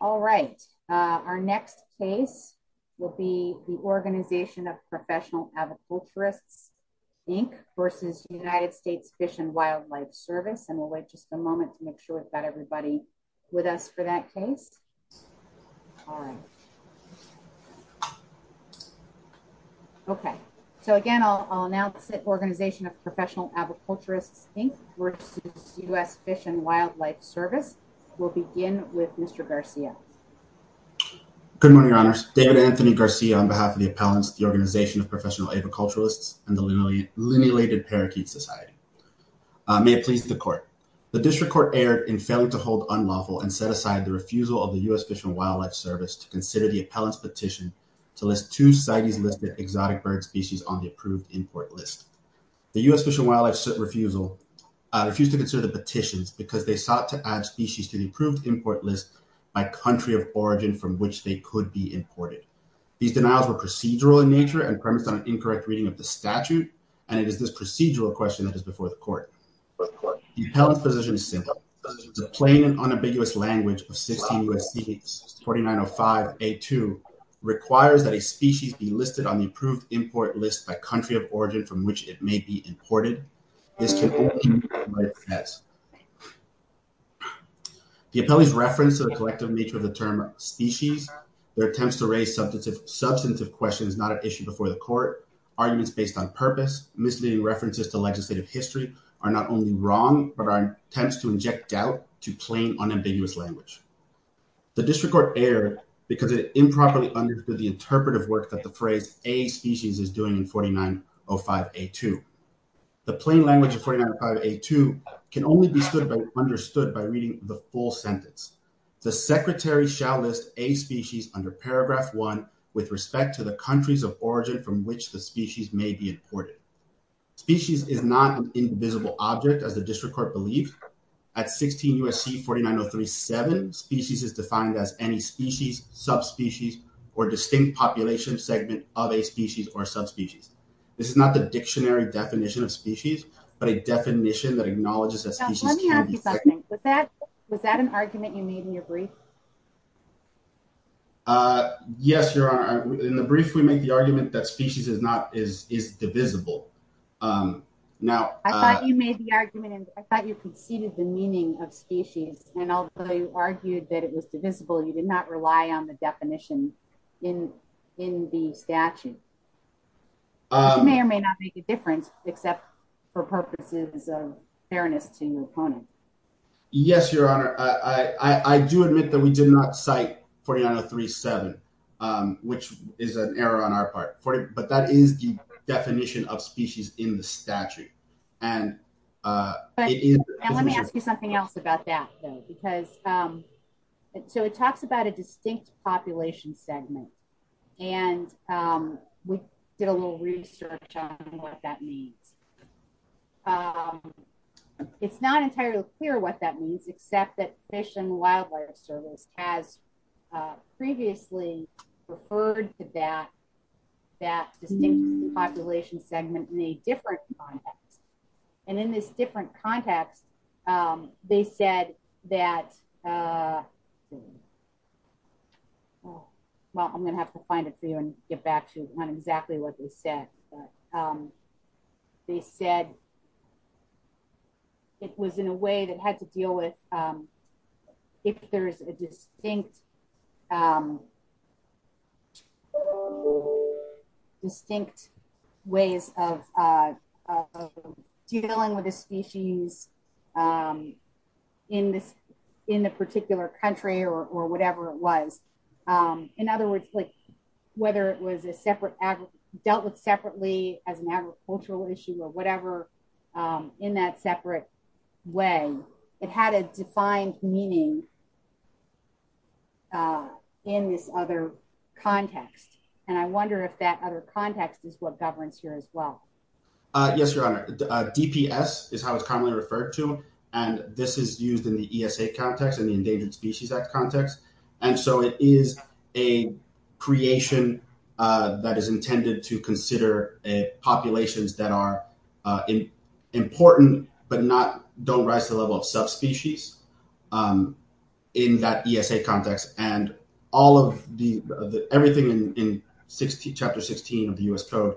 All right, our next case will be the Organization of Professional Aviculturists, Inc. v. United States Fish and Wildlife Service, and we'll wait just a moment to make sure we've got everybody with us for that case. All right. Okay, so again, I'll announce it. Organization of Professional Aviculturists, Inc. v. U.S. Fish and Wildlife Service will begin with Mr. Garcia. Good morning, Your Honors. David Anthony Garcia, on behalf of the appellants, the Organization of Professional Aviculturists, and the Linealated Parakeet Society. May it please the Court. The District Court erred in failing to hold unlawful and set aside the refusal of the U.S. Fish and Wildlife Service to consider the appellant's petition to list two societies-listed exotic bird species on the approved import list. The U.S. Fish and Wildlife refusal refused to consider the petitions because they sought to add species to the approved import list by country of origin from which they could be imported. These denials were procedural in nature and premised on an incorrect reading of the statute, and it is this procedural question that is before the Court. The appellant's position is simple. The plain and unambiguous language of 16 U.S.C. 4905a2 requires that a species be listed on the approved import list by country of origin from which it may be imported. This can only be done by a press. The appellant's reference to the collective nature of the term species, their attempts to raise substantive questions not at issue before the Court, arguments based on purpose, misleading references to legislative history, are not only wrong but are attempts to inject doubt to plain, unambiguous language. The District Court erred because it improperly understood the interpretive work that the phrase a species is doing in 4905a2. The plain language of 4905a2 can only be understood by reading the full sentence. The secretary shall list a species under paragraph one with respect to the countries of origin from which the species may be imported. Species is not an invisible object, as the District Court believes. At 16 U.S.C. 49037, species is defined as any species, subspecies, or distinct population segment of a species or subspecies. This is not the dictionary definition of species, but a definition that acknowledges that species can be. Let me ask you something. Was that an argument you made in your brief? Yes, Your Honor. In the brief, we made the argument that species is divisible. I thought you made the argument and I thought you conceded the meaning of species, and although you argued that it was divisible, you did not rely on the definition in the statute. It may or may not make a difference, except for purposes of fairness to your opponent. Yes, Your Honor. I do admit that we did not cite 49037, which is an error on our part, but that is the definition of species in the statute. Let me ask you something else about that, though. It talks about a distinct population segment, and we did a little research on what that means. It's not entirely clear what that means, except that Fish and Wildlife Service has previously referred to that distinct population segment in a different context. And in this different context, they said that, well, I'm going to have to find it for you and get back to you. It's not exactly what they said, but they said it was in a way that had to deal with if there's distinct ways of dealing with a species in the particular country or whatever it was. In other words, whether it was dealt with separately as an agricultural issue or whatever, in that separate way, it had a defined meaning in this other context. And I wonder if that other context is what governs here as well. Yes, Your Honor. DPS is how it's commonly referred to, and this is used in the ESA context and the Endangered Species Act context. And so it is a creation that is intended to consider populations that are important but don't rise to the level of subspecies in that ESA context. And everything in Chapter 16 of the US Code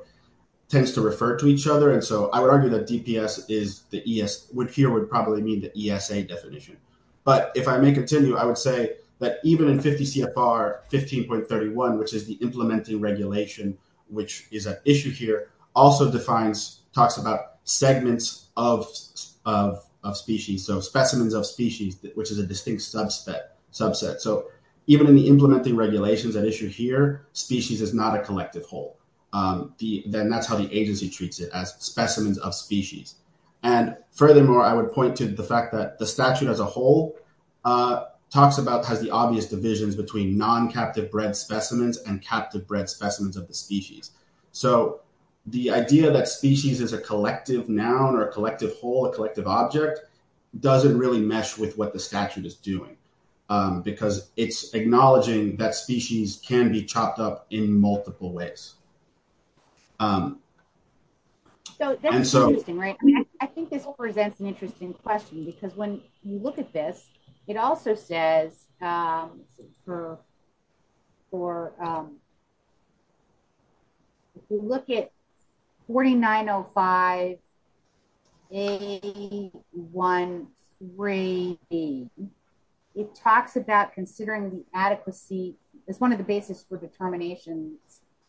tends to refer to each other. And so I would argue that DPS here would probably mean the ESA definition. But if I may continue, I would say that even in 50 CFR 15.31, which is the implementing regulation, which is at issue here, also defines, talks about segments of species, so specimens of species, which is a distinct subset. So even in the implementing regulations at issue here, species is not a collective whole. Then that's how the agency treats it, as specimens of species. And furthermore, I would point to the fact that the statute as a whole talks about, has the obvious divisions between non-captive bred specimens and captive bred specimens of the species. So the idea that species is a collective noun or a collective whole, a collective object, doesn't really mesh with what the statute is doing, because it's acknowledging that species can be chopped up in multiple ways. So that's interesting, right? I mean, I think this presents an interesting question, because when you look at this, it also says, if you look at 4905A13B, it talks about considering the adequacy, it's one of the basis for determinations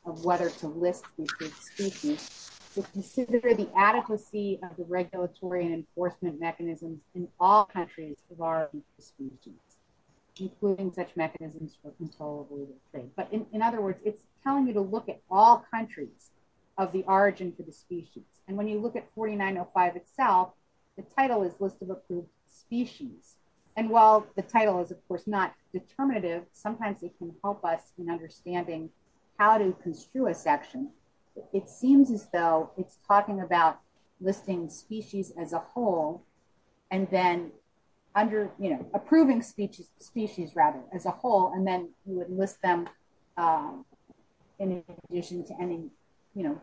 of whether to list the species, to consider the adequacy of the regulatory and enforcement mechanism in all countries of our species, including such mechanisms for controllability. But in other words, it's telling you to look at all countries of the origin for the species. And when you look at 4905 itself, the title is List of Approved Species. And while the title is, of course, not determinative, sometimes it can help us in understanding how to construe a section. It seems as though it's talking about listing species as a whole, and then under, you know, approving species as a whole, and then you would list them in addition to any, you know,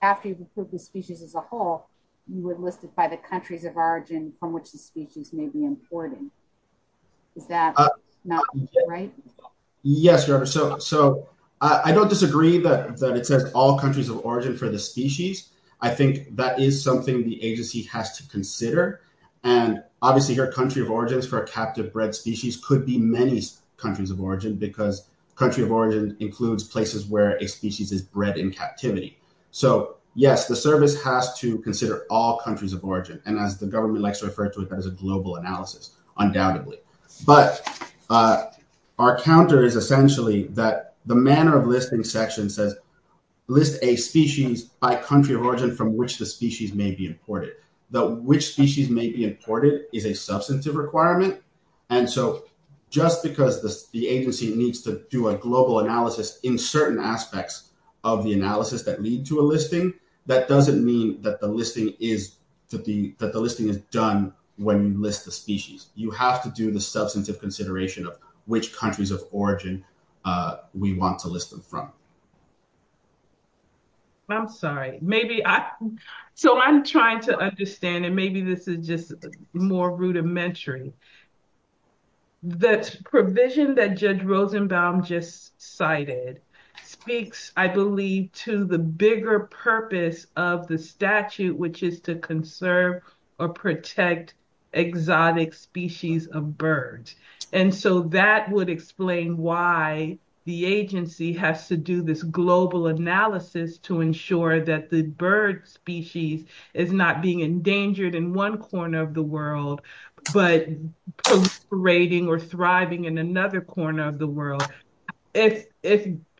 after you've approved the species as a whole, you would list it by the countries of origin from which the species may be imported. Is that not right? Yes, so I don't disagree that it says all countries of origin for the species. I think that is something the agency has to consider. And obviously, your country of origins for a captive bred species could be many countries of origin, because country of origin includes places where a species is bred in captivity. So yes, the service has to consider all countries of origin. And as the government likes to refer to it as a global analysis, undoubtedly. But our counter is essentially that the manner of listing section says, list a species by country of origin from which the species may be imported, that which species may be imported is a substantive requirement. And so just because the agency needs to do a global analysis in certain aspects of the analysis that lead to a listing, that doesn't mean that the listing is to be that the listing is done when you list the species, you have to do the substantive consideration of which countries of origin we want to list them from. I'm sorry, maybe. So I'm trying to understand and maybe this is just more rudimentary. The provision that Judge Rosenbaum just cited speaks, I believe, to the bigger purpose of the statute, which is to conserve or protect exotic species of birds. And so that would explain why the agency has to do this global analysis to ensure that the bird species is not being proliferating or thriving in another corner of the world. If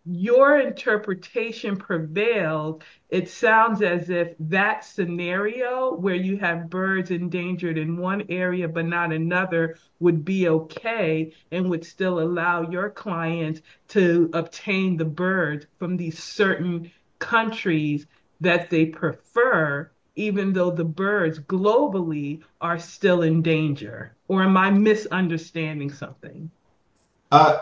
your interpretation prevailed, it sounds as if that scenario where you have birds endangered in one area, but not another would be okay and would still allow your clients to obtain the birds from these certain countries that they prefer, even though the birds globally are still in danger. Or am I misunderstanding something?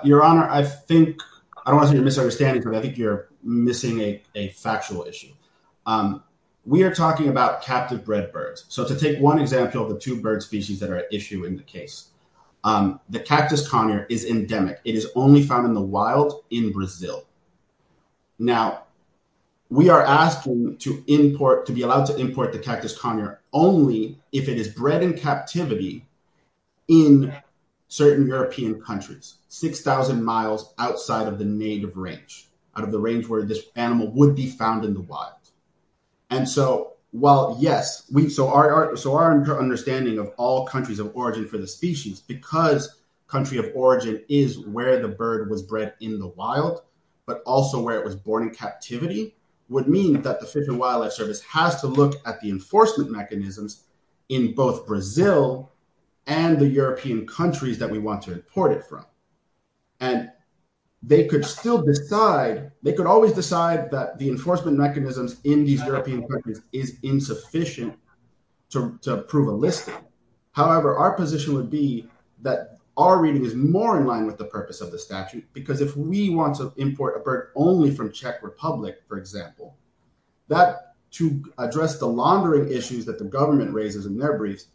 Your Honor, I think, I don't want to say you're misunderstanding, but I think you're missing a factual issue. We are talking about captive bred birds. So to take one example of the two bird species that are at issue in the case, the cactus conure is endemic. It is only found in the wild in Brazil. Now we are asking to import, to be allowed to import the cactus conure only if it is bred in captivity in certain European countries, 6,000 miles outside of the native range, out of the range where this animal would be found in the wild. And so while yes, so our understanding of all countries of origin for the species, because country of origin is where the bird was bred in the wild, but also where it was born in captivity, would mean that the Fish and Wildlife Service has to look at the enforcement mechanisms in both Brazil and the European countries that we want to import it from. And they could still decide, they could always decide that the enforcement mechanisms in these European countries is insufficient to prove a listing. However, our position would be that our reading is more in line with the purpose of the statute, because if we want to import a bird only from Czech Republic, for example, that to address the laundering issues that the government raises in their briefs,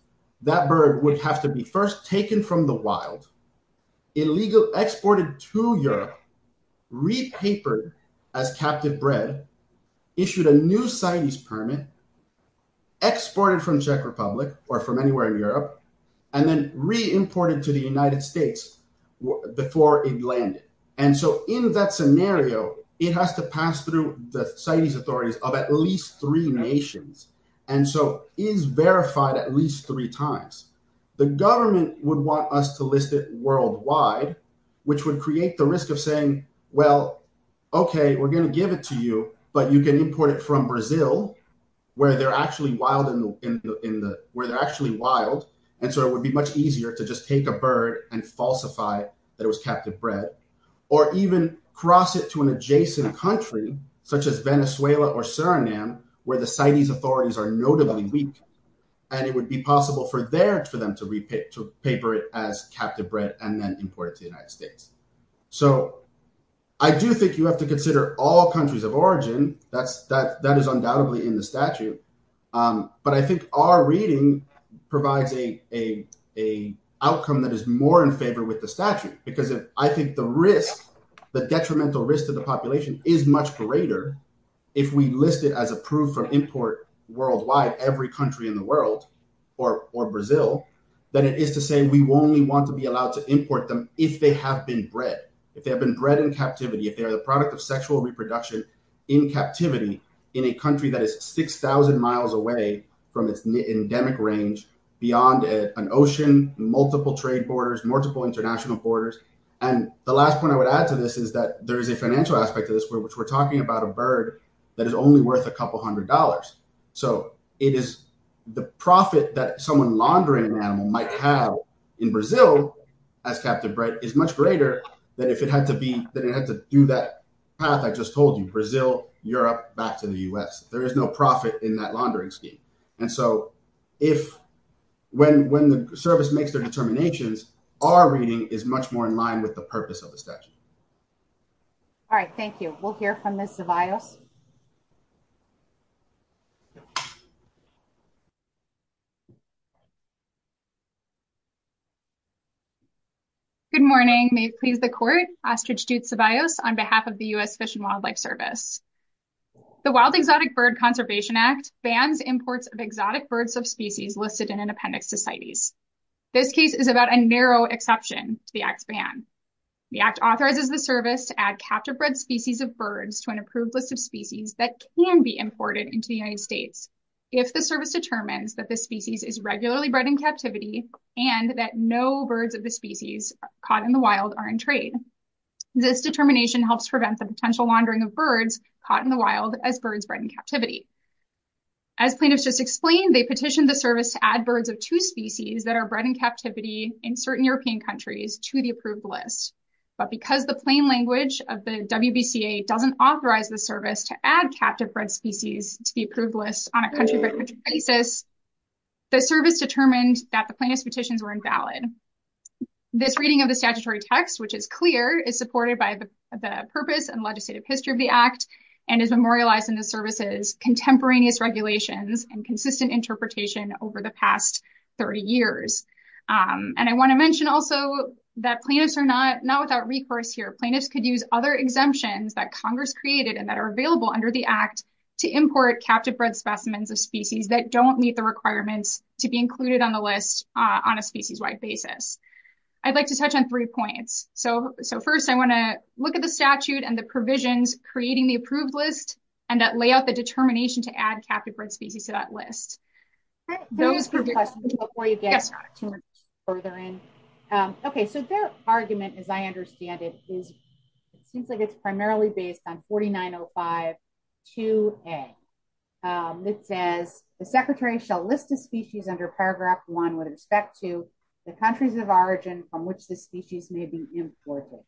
that bird would have to be first taken from the wild, illegally exported to Europe, repapered as captive bred, issued a new CITES permit, exported from Czech Republic or from Europe, and then re-imported to the United States before it landed. And so in that scenario, it has to pass through the CITES authorities of at least three nations, and so is verified at least three times. The government would want us to list it worldwide, which would create the risk of saying, well, okay, we're going to give it to you, but you can import it from Brazil, where they're actually wild, and so it would be much easier to just take a bird and falsify that it was captive bred, or even cross it to an adjacent country, such as Venezuela or Suriname, where the CITES authorities are notably weak, and it would be possible for them to repaper it as captive bred and then import it to the United States. So I do think you have to consider all countries of origin, that is undoubtedly in the statute, but I think our reading provides a outcome that is more in favor with the statute, because I think the risk, the detrimental risk to the population is much greater if we list it as approved for import worldwide, every country in the world, or Brazil, than it is to say we only want to be allowed to import them if they have been bred, if they have been bred in captivity, if they are the product of sexual reproduction in captivity in a country that is 6,000 miles away from its endemic range, beyond an ocean, multiple trade borders, multiple international borders, and the last point I would add to this is that there is a financial aspect to this, which we're talking about a bird that is only worth a couple hundred dollars, so it is the profit that someone laundering an animal might have in Brazil as captive bred is much greater than if it had to be, than it had to do that path I just told you, Brazil, Europe, back to the U.S. There is no profit in that laundering scheme, and so if, when the service makes their determinations, our reading is much more in line with the purpose of that. All right, thank you. We'll hear from Ms. Ceballos. Good morning. May it please the court, Ostrich Jute Ceballos on behalf of the U.S. Fish and Wildlife Service. The Wild Exotic Bird Conservation Act bans imports of exotic birds of species listed in independent societies. This case is about a narrow exception to the Act's The Act authorizes the service to add captive bred species of birds to an approved list of species that can be imported into the United States if the service determines that the species is regularly bred in captivity and that no birds of the species caught in the wild are in trade. This determination helps prevent the potential laundering of birds caught in the wild as birds bred in captivity. As plaintiffs just explained, they petitioned the service to add but because the plain language of the WBCA doesn't authorize the service to add captive bred species to the approved list on a country-by-country basis, the service determined that the plaintiff's petitions were invalid. This reading of the statutory text, which is clear, is supported by the purpose and legislative history of the Act and is memorialized in the service's contemporaneous regulations and consistent interpretation over the past 30 years. And I want to mention also that plaintiffs are not without recourse here. Plaintiffs could use other exemptions that Congress created and that are available under the Act to import captive bred specimens of species that don't meet the requirements to be included on the list on a species-wide basis. I'd like to touch on three points. So first, I want to look at the statute and the provisions creating the approved list and that lay out the determination to add captive-bred species to that list. Okay, so their argument, as I understand it, seems like it's primarily based on 4905-2A. It says, the secretary shall list a species under paragraph one with respect to the countries of origin from which the species may be imported.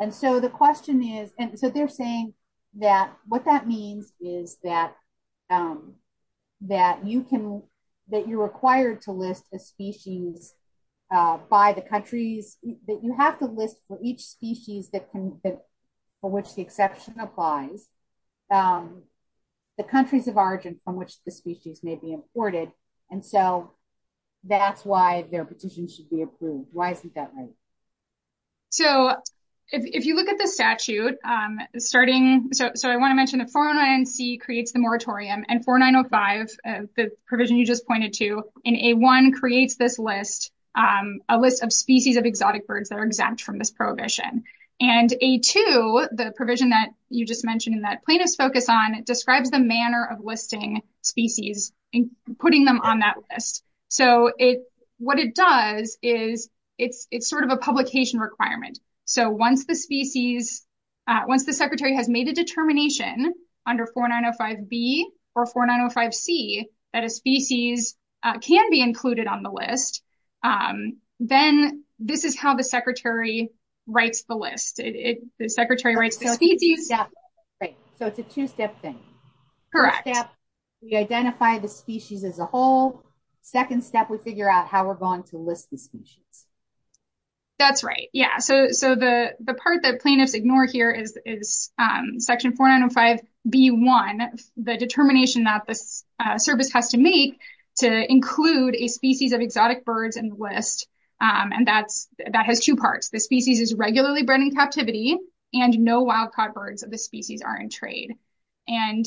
And so the question is, and so they're saying that what that means is that you can, that you're required to list a species by the countries, that you have to list for each species that can, for which the exception applies, the countries of origin from which the species may be imported. And so that's why their petition should be approved. Why isn't that right? So if you look at the statute, starting, so I want to mention that 4909-C creates the moratorium and 4905, the provision you just pointed to, in A-1 creates this list, a list of species of exotic birds that are exempt from this prohibition. And A-2, the provision that you just mentioned and that plaintiffs focus on, describes the manner of listing species and putting them on that list. So it, what it does is it's, it's sort of a publication requirement. So once the species, once the secretary has made a determination under 4905-B or 4905-C that a species can be included on the list, then this is how the secretary writes the list. The secretary writes the species. Right. So it's a two-step thing. Correct. We identify the species as a whole. Second step, we figure out how we're going to list the species. That's right. Yeah. So, so the, the part that plaintiffs ignore here is, is section 4905-B-1, the determination that the service has to make to include a species of exotic birds in the list. And that's, that has two parts. The species is regularly bred in captivity, and no wild-caught birds of the species are in trade. And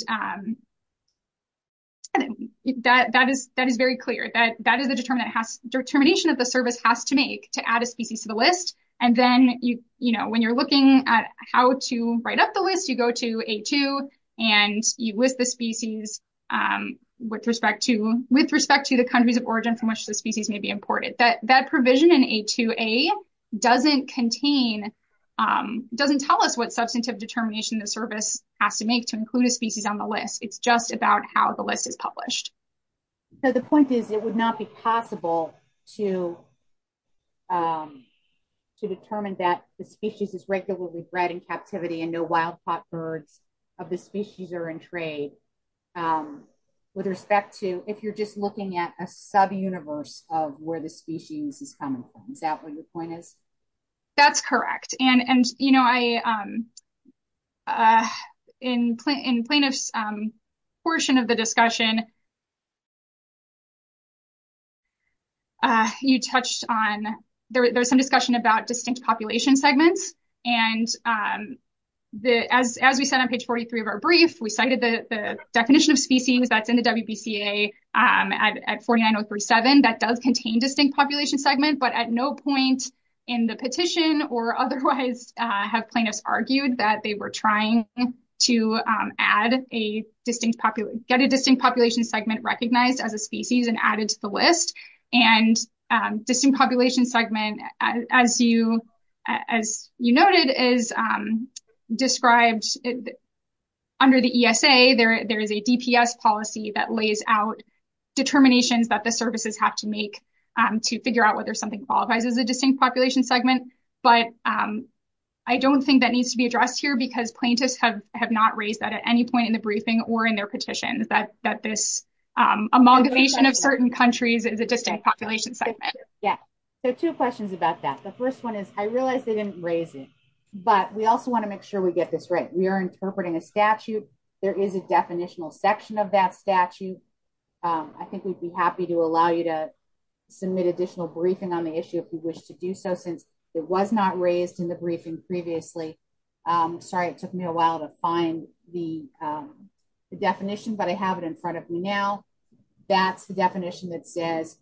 that, that is, that is very clear. That, that is the determination it has, determination that the service has to make to add a species to the list. And then you, you know, when you're looking at how to write up the list, you go to A-2 and you list the species with respect to, with respect to the countries of doesn't contain, doesn't tell us what substantive determination the service has to make to include a species on the list. It's just about how the list is published. So the point is, it would not be possible to, to determine that the species is regularly bred in captivity and no wild-caught birds of the species are in trade. With respect to, if you're just looking at a sub-universe of the species is common. Is that what your point is? That's correct. And, and, you know, I, in plaintiff's portion of the discussion, you touched on, there was some discussion about distinct population segments. And as, as we said on page 43 of our brief, we cited the definition of species that's in the WBCA at 49037, that does contain distinct population segment, but at no point in the petition or otherwise have plaintiffs argued that they were trying to add a distinct population, get a distinct population segment recognized as a species and added to the list. And distinct population segment, as you, as you noted is described under the ESA, there, there is a DPS policy that lays out determinations that the services have to make to figure out whether something qualifies as a distinct population segment. But I don't think that needs to be addressed here because plaintiffs have, have not raised that at any point in the briefing or in their petitions that, that this amalgamation of certain countries is a distinct population segment. Yeah. So two questions about that. The first one is I realized they didn't raise it, but we also want to make sure we get this right. We are interpreting a statute. There is a definitional section of that statute. I think we'd be happy to allow you to submit additional briefing on the issue if you wish to do so, since it was not raised in the briefing previously. Sorry, it took me a while to find the definition, but I have it in front of me now. That's the definition that says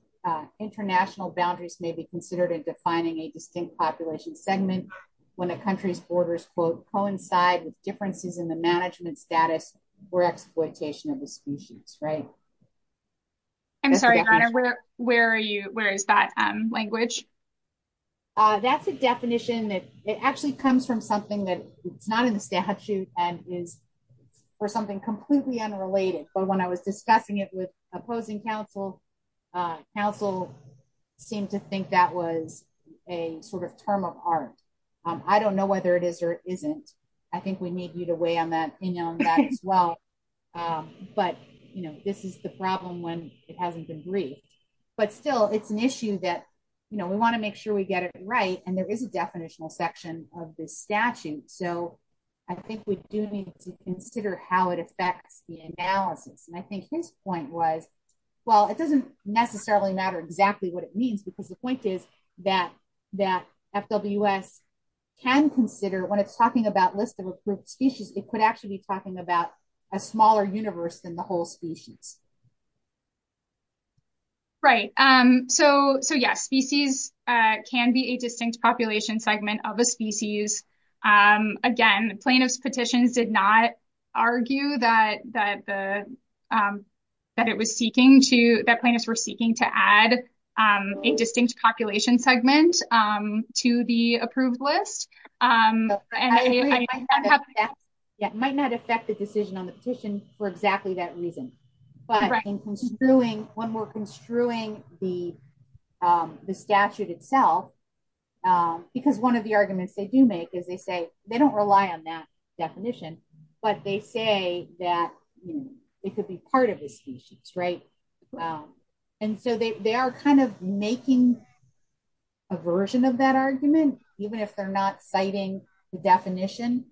international boundaries may be considered in defining a distinct population segment when a country's borders quote coincide with differences in management status or exploitation of the species, right? I'm sorry, where, where are you? Where is that language? That's a definition that it actually comes from something that it's not in the statute and is for something completely unrelated. But when I was discussing it with opposing counsel, counsel seemed to think that was a sort of term of art. I don't know whether it is or isn't. I think we need you to weigh in on that as well. But, you know, this is the problem when it hasn't been briefed. But still, it's an issue that, you know, we want to make sure we get it right. And there is a definitional section of this statute. So I think we do need to consider how it affects the analysis. And I think his point was, well, it doesn't necessarily matter exactly what it means, because the point is, that that FWS can consider when it's talking about list of approved species, it could actually be talking about a smaller universe than the whole species. Right. So so yeah, species can be a distinct population segment of a species. And again, plaintiff's petitions did not argue that it was seeking to that plaintiffs were seeking to add a distinct population segment to the approved list. Yeah, it might not affect the decision on the petition for exactly that reason. But when we're construing the the statute itself, because one of the arguments they do make is they say they don't rely on that definition. But they say that it could be part of the species, right. And so they are kind of making a version of that argument, even if they're not citing the definition.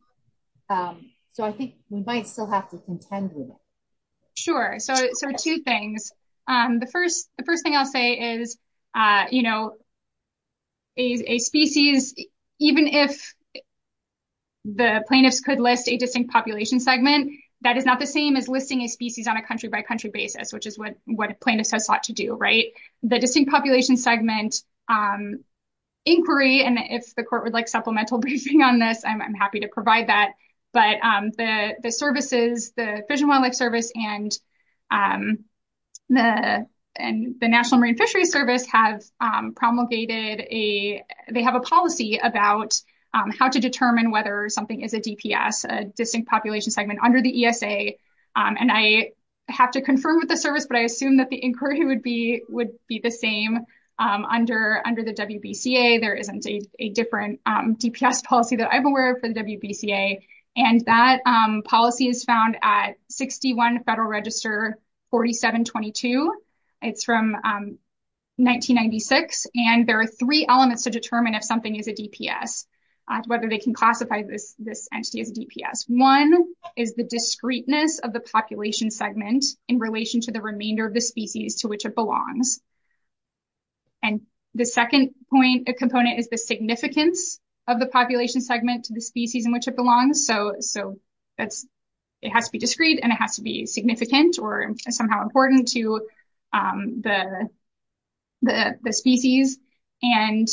So I think we might still have to contend with it. Sure. So so two things. The first, the first thing I'll say is, you know, is a species, even if the plaintiffs could list a distinct population segment, that is not the same as listing a species on a country by country basis, which is what what plaintiffs have sought to do, right? The distinct population segment inquiry, and if the court would like supplemental briefing on this, I'm happy to provide that. But the services, the Fish and Wildlife Service and the and the National Marine Fisheries Service have promulgated a they have a policy about how to determine whether something is a DPS, a distinct population segment under the ESA. And I have to confirm with the service, but I assume that the inquiry would be would be the same under under the WBCA. There isn't a different DPS policy that I'm aware of for the WBCA. And that policy is found at 61 Federal Register 4722. It's from 1996. And there are three elements to determine if something is a DPS, whether they can classify this this entity as DPS. One is the discreteness of the population segment in relation to the remainder of the species to which it belongs. And the second point, a component is the significance of the population segment to the species in which it belongs. So so that's, it has to be discrete, and it has to be significant or somehow important to the the species. And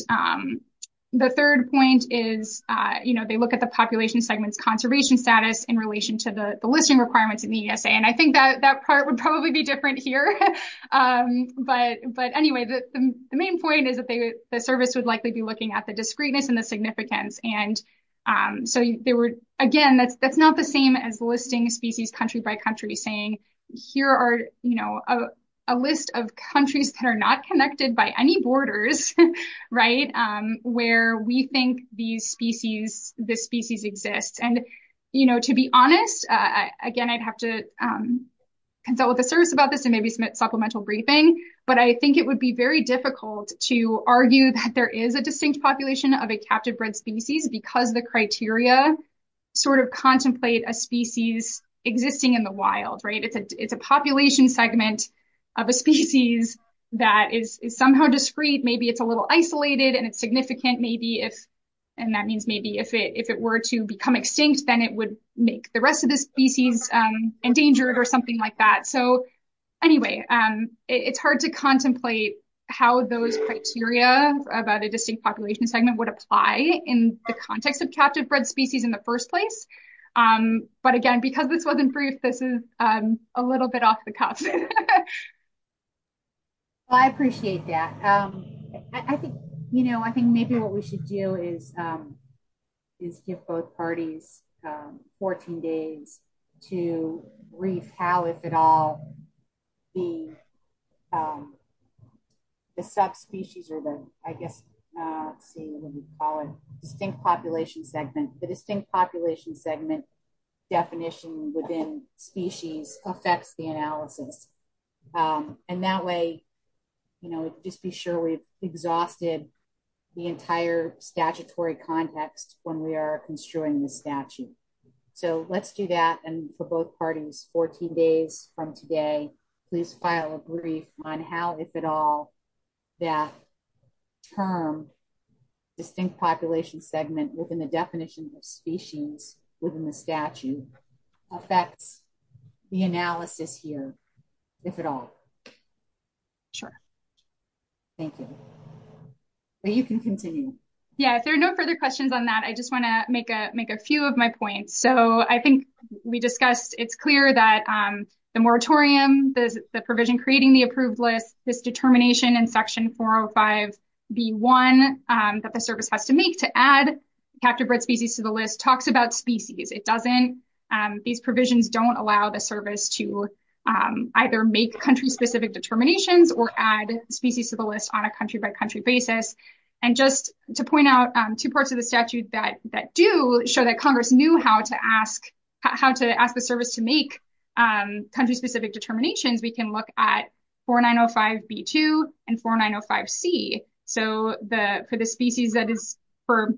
the third point is, you know, they look at the status in relation to the listing requirements in the ESA. And I think that that part would probably be different here. But But anyway, the main point is that the service would likely be looking at the discreteness and the significance. And so they were, again, that's that's not the same as listing species country by country saying, here are, you know, a list of countries that are not connected by any borders, right, where we think these species, this species exists. And, you know, to be honest, again, I'd have to consult with the service about this and maybe submit supplemental briefing. But I think it would be very difficult to argue that there is a distinct population of a captive bred species because the criteria sort of contemplate a species existing in the wild, right? It's a it's a population segment of a species that is somehow discrete, maybe it's a little isolated, and it's significant, maybe if, and that means maybe if it if it were to become extinct, then it would make the rest of the species endangered or something like that. So anyway, it's hard to contemplate how those criteria about a distinct population segment would apply in the context of captive bred species in the first place. But again, because this wasn't brief, this is a little bit off the cuff. Well, I appreciate that. I think, you know, I think maybe what we should do is, is give both parties 14 days to brief how if at all the the subspecies or the, I guess, see what we call it distinct population segment, the distinct population segment definition within species affects the analysis. And that way, you know, just be sure we've exhausted the entire statutory context when we are construing the statute. So let's do that. And for both parties 14 days from today, please file a brief on how if at all that term distinct population segment within the species within the statute affects the analysis here, if at all. Sure. Thank you. But you can continue. Yeah, if there are no further questions on that, I just want to make a make a few of my points. So I think we discussed it's clear that the moratorium, the provision creating the approved list, this determination in section 405 B1 that the service has to make to add captive species to the list talks about species. It doesn't. These provisions don't allow the service to either make country specific determinations or add species to the list on a country by country basis. And just to point out two parts of the statute that that do show that Congress knew how to ask, how to ask the service to make country specific determinations, we can look at 4905 B2 and 4905 C. So the species that is for,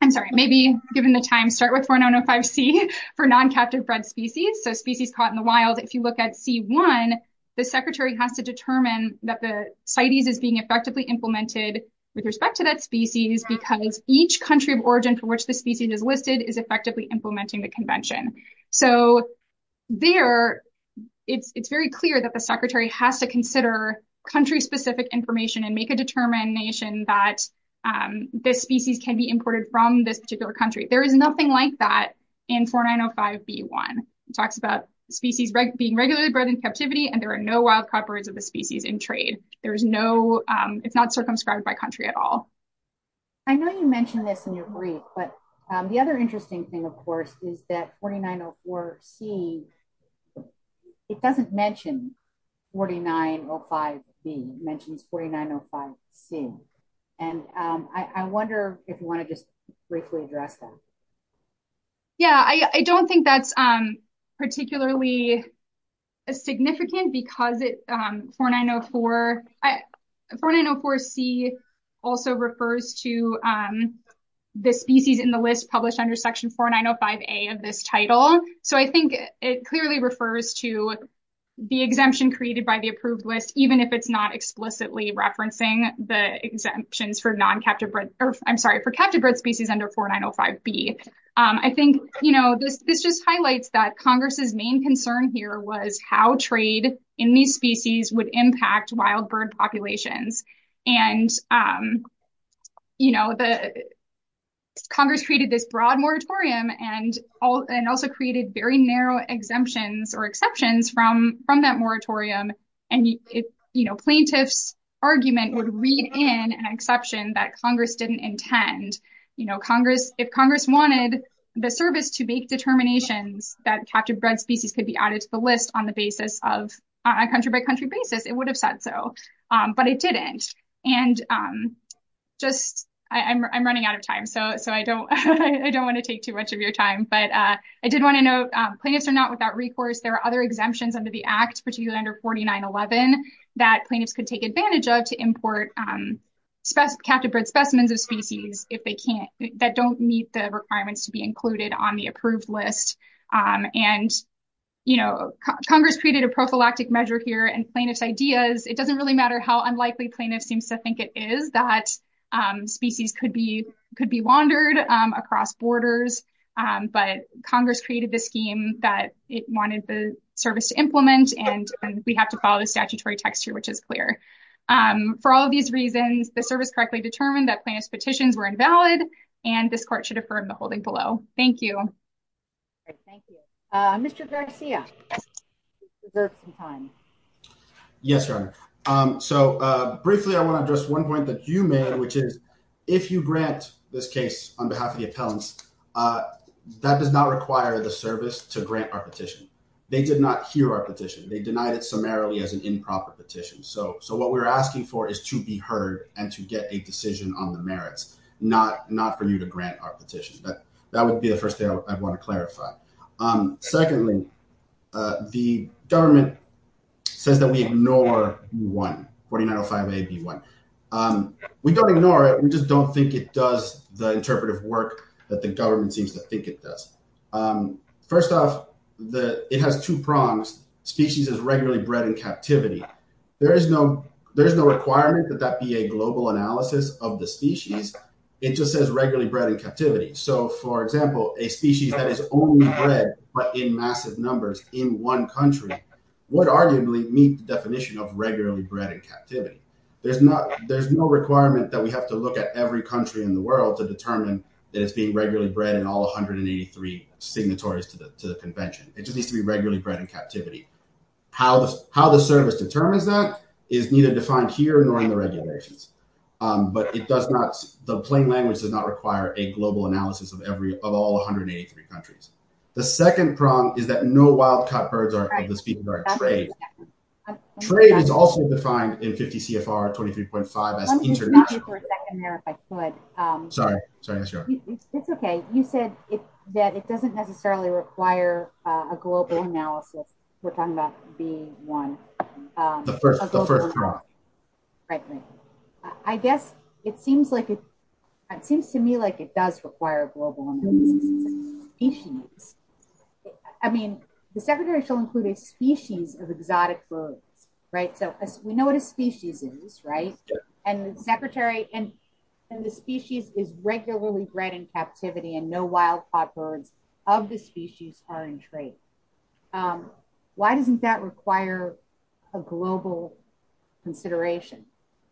I'm sorry, maybe given the time, start with 4905 C for non-captive bred species. So species caught in the wild. If you look at C1, the secretary has to determine that the CITES is being effectively implemented with respect to that species because each country of origin for which the species is listed is effectively implementing the convention. So there it's very clear that the secretary has to consider country specific information and make determination that this species can be imported from this particular country. There is nothing like that in 4905 B1. It talks about species being regularly bred in captivity and there are no wild copyrights of the species in trade. There is no, it's not circumscribed by country at all. I know you mentioned this in your brief, but the other interesting thing of course is that 4904 C, it doesn't mention 4905 B, it mentions 4905 C. And I wonder if you want to just briefly address that. Yeah, I don't think that's particularly significant because 4904 C also refers to the species in the list published under section 4905 A of this title. So I think it clearly refers to the exemption created by the approved list, even if it's not explicitly referencing the exemptions for non captive bred, or I'm sorry, for captive bred species under 4905 B. I think, you know, this just highlights that Congress's main concern here was how trade in these species would impact wild bird populations. And, you know, Congress created this broad moratorium and also created very narrow exemptions or exceptions from that moratorium. And, you know, plaintiffs' argument would read in an exception that Congress didn't intend. You know, if Congress wanted the service to make determinations that captive bred species could be added to the list on a country by country basis, it would have said so. But it didn't. And I'm running out of time, so I don't want to take too much of your time. But I did want to note, plaintiffs are not without recourse. There are other exemptions under the Act, particularly under 4911, that plaintiffs could take advantage of to import captive bred specimens of species that don't meet the requirements to be included on the approved list. And, you know, Congress created a prophylactic measure here and plaintiffs' ideas. It doesn't really matter how unlikely plaintiffs seem to think it is that species could be wandered across borders. But Congress created the scheme that it wanted the service to implement. And we have to follow the statutory text here, which is clear. For all of these reasons, the service correctly determined that plaintiffs' petitions were invalid and this court should defer to the holding below. Thank you. Thank you. Mr. Garcia, you deserve some time. Yes, Your Honor. So briefly, I want to address one point that you made, which is if you grant this case on behalf of the appellants, that does not require the service to grant our petition. They did not hear our petition. They denied it summarily as an improper petition. So what we're asking for is to be heard and to get a decision on the merits, not for you to grant our petition. But that would be the first thing I'd want to clarify. Secondly, the government says that we ignore B1, 4905A, B1. We don't ignore it. We just don't think it does the interpretive work that the government seems to think it does. First off, it has two prongs. Species is regularly bred in captivity. There is no requirement that be a global analysis of the species. It just says regularly bred in captivity. So for example, a species that is only bred but in massive numbers in one country would arguably meet the definition of regularly bred in captivity. There's no requirement that we have to look at every country in the world to determine that it's being regularly bred in all 183 signatories to the convention. It just needs to be regularly bred in captivity. How the service determines that is neither defined here nor in the regulations. But the plain language does not require a global analysis of all 183 countries. The second prong is that no wild-caught birds are allowed to speak about trade. Trade is also defined in 50 CFR 23.5 as international. Sorry, sorry. It's okay. You said that it doesn't necessarily require a global analysis. We're talking about one. The first prong. Right. I guess it seems to me like it does require a global analysis. I mean, the secretary shall include a species of exotic birds, right? So we know what a species is, right? And the secretary and the species is regularly bred in captivity and no wild-caught of the species are in trade. Why doesn't that require a global consideration?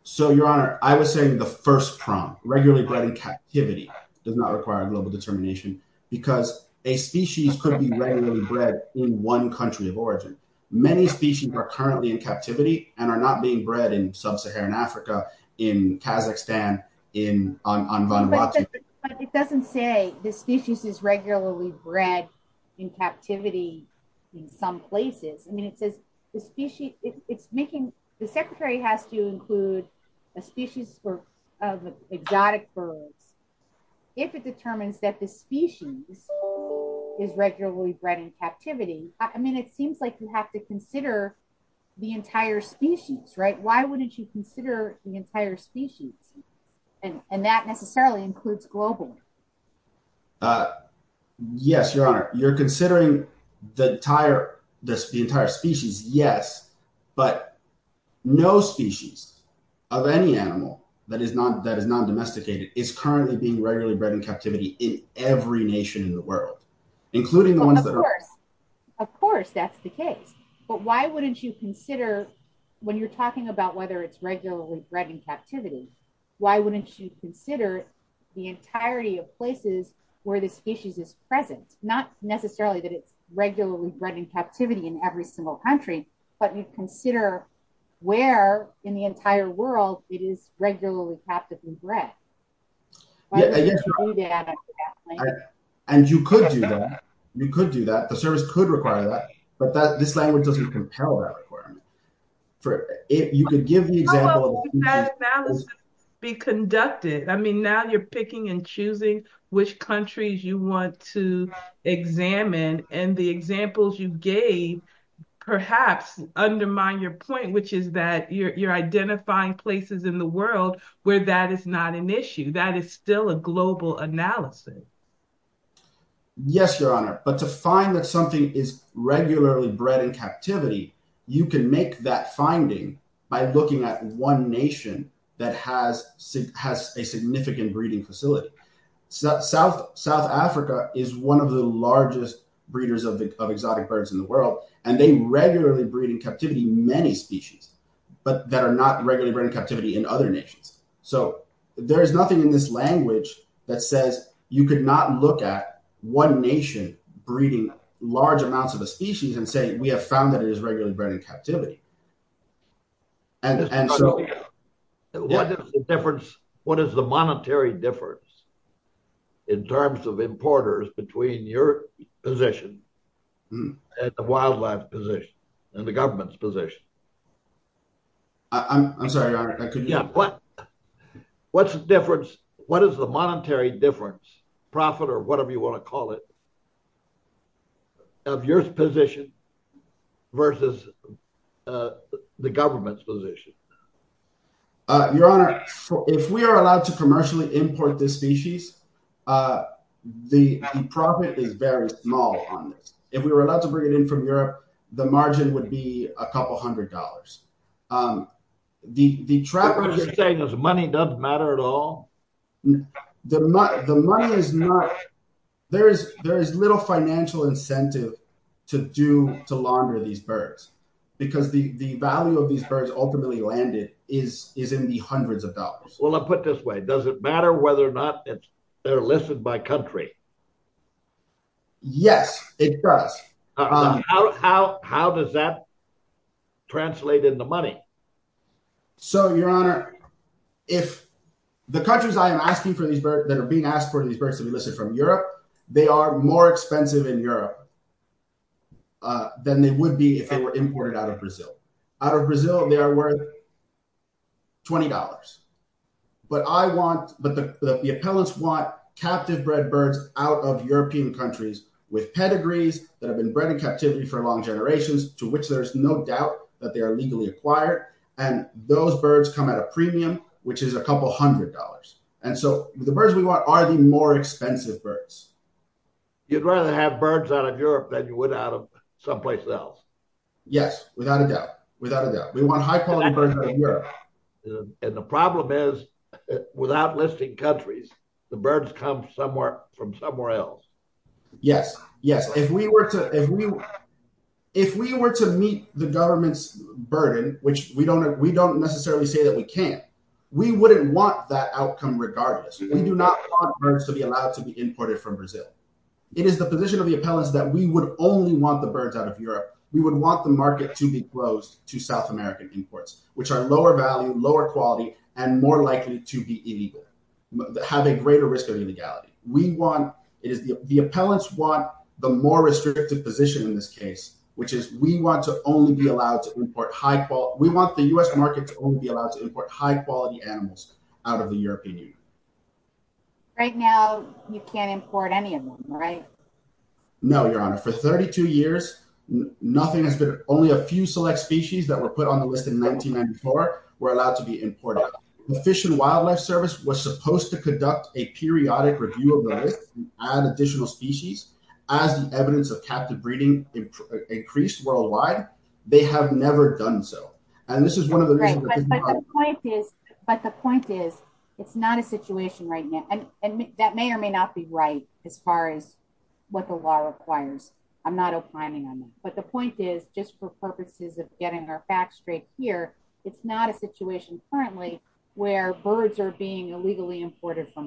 So your honor, I was saying the first prong regularly bred in captivity does not require a global determination because a species could be regularly bred in one country of origin. Many species are currently in captivity and are not being bred in sub-Saharan Africa, in Kazakhstan, on Vanuatu. But it doesn't say the species is regularly bred in captivity in some places. I mean, it says the species, it's making, the secretary has to include a species of exotic birds. If it determines that the species is regularly bred in captivity, I mean, it seems like you have to consider the entire species, right? Why wouldn't you consider the entire species? And that necessarily includes globally. Yes, your honor. You're considering the entire species, yes. But no species of any animal that is non-domesticated is currently being regularly bred in captivity in every nation in the world, including the ones that are- Of course, of course, that's the case. But why wouldn't you consider, when you're talking about whether it's regularly bred in captivity, why wouldn't you consider the entirety of places where the species is present? Not necessarily that it's regularly bred in captivity in every single country, but you consider where in the entire world it is regularly captive and bred. Why wouldn't you do that? And you could do that. You could do that. The service could require that, but this language doesn't compel that requirement. For if you could give the example- How would that analysis be conducted? I mean, now you're picking and choosing which countries you want to examine, and the examples you gave perhaps undermine your point, which is that you're identifying places in the world where that is not an issue. That is still a global analysis. Yes, Your Honor. But to find that something is regularly bred in captivity, you can make that finding by looking at one nation that has a significant breeding facility. South Africa is one of the largest breeders of exotic birds in the world, and they regularly breed in captivity many species, but that are not regularly bred in captivity in other nations. So there's nothing in this language that says you could not look at one nation breeding large amounts of a species and say, we have found that it is regularly bred in captivity. What is the monetary difference in terms of importers between your position and the wildlife position and the government's position? I'm sorry, Your Honor, I couldn't hear you. What's the difference? What is the monetary difference, profit or whatever you want to call it, of your position versus the government's position? Your Honor, if we are allowed to commercially import this species, the profit is very small on this. If we were allowed to bring it in from Europe, the margin would be a couple hundred dollars. What you're saying is money doesn't matter at all? There is little financial incentive to launder these birds, because the value of these birds ultimately landed is in the hundreds of dollars. Well, I'll put it this way. Does it matter whether they're listed by country? Yes, it does. How does that translate into money? So, Your Honor, if the countries that are being asked for these birds to be listed from Europe, they are more expensive in Europe than they would be if they were imported out of Brazil. Out of Brazil, they are worth $20. But the appellants want captive-bred birds out of European countries with pedigrees that have been bred in captivity for long generations, to which there's no doubt that they are legally acquired. And those birds come at a premium, which is a couple hundred dollars. And so the birds we want are the more expensive birds. You'd rather have birds out of Europe than you would out of someplace else? Yes, without a doubt, without a doubt. We want high-quality birds out of Europe. And the problem is, without listing countries, the birds come from somewhere else. Yes, yes. If we were to meet the government's burden, which we don't necessarily say that we can, we wouldn't want that outcome regardless. We do not want birds to be allowed to be imported from Brazil. It is the position of the appellants that we would only want the birds out of Europe. We would want the market to be closed to South American imports, which are lower value, lower quality, and more likely to be illegal, have a greater risk of illegality. The appellants want the more restrictive position in this case, which is we want the U.S. market to only be allowed to import high-quality animals out of the European Union. Right now, you can't import any of them, right? No, Your Honor. For 32 years, nothing has been, only a few select species that were put on the list in 1994 were allowed to be imported. The Fish and Wildlife Service was supposed to conduct a periodic review of the list and add additional species. As the evidence of captive breeding increased worldwide, they have never done so. And this is one of the reasons. But the point is, it's not a situation right now. And that may or may not be right as far as what the law requires. I'm not opining on that. But the point is, just for purposes of getting our facts straight here, it's not a situation currently where birds are being illegally imported from the U.S.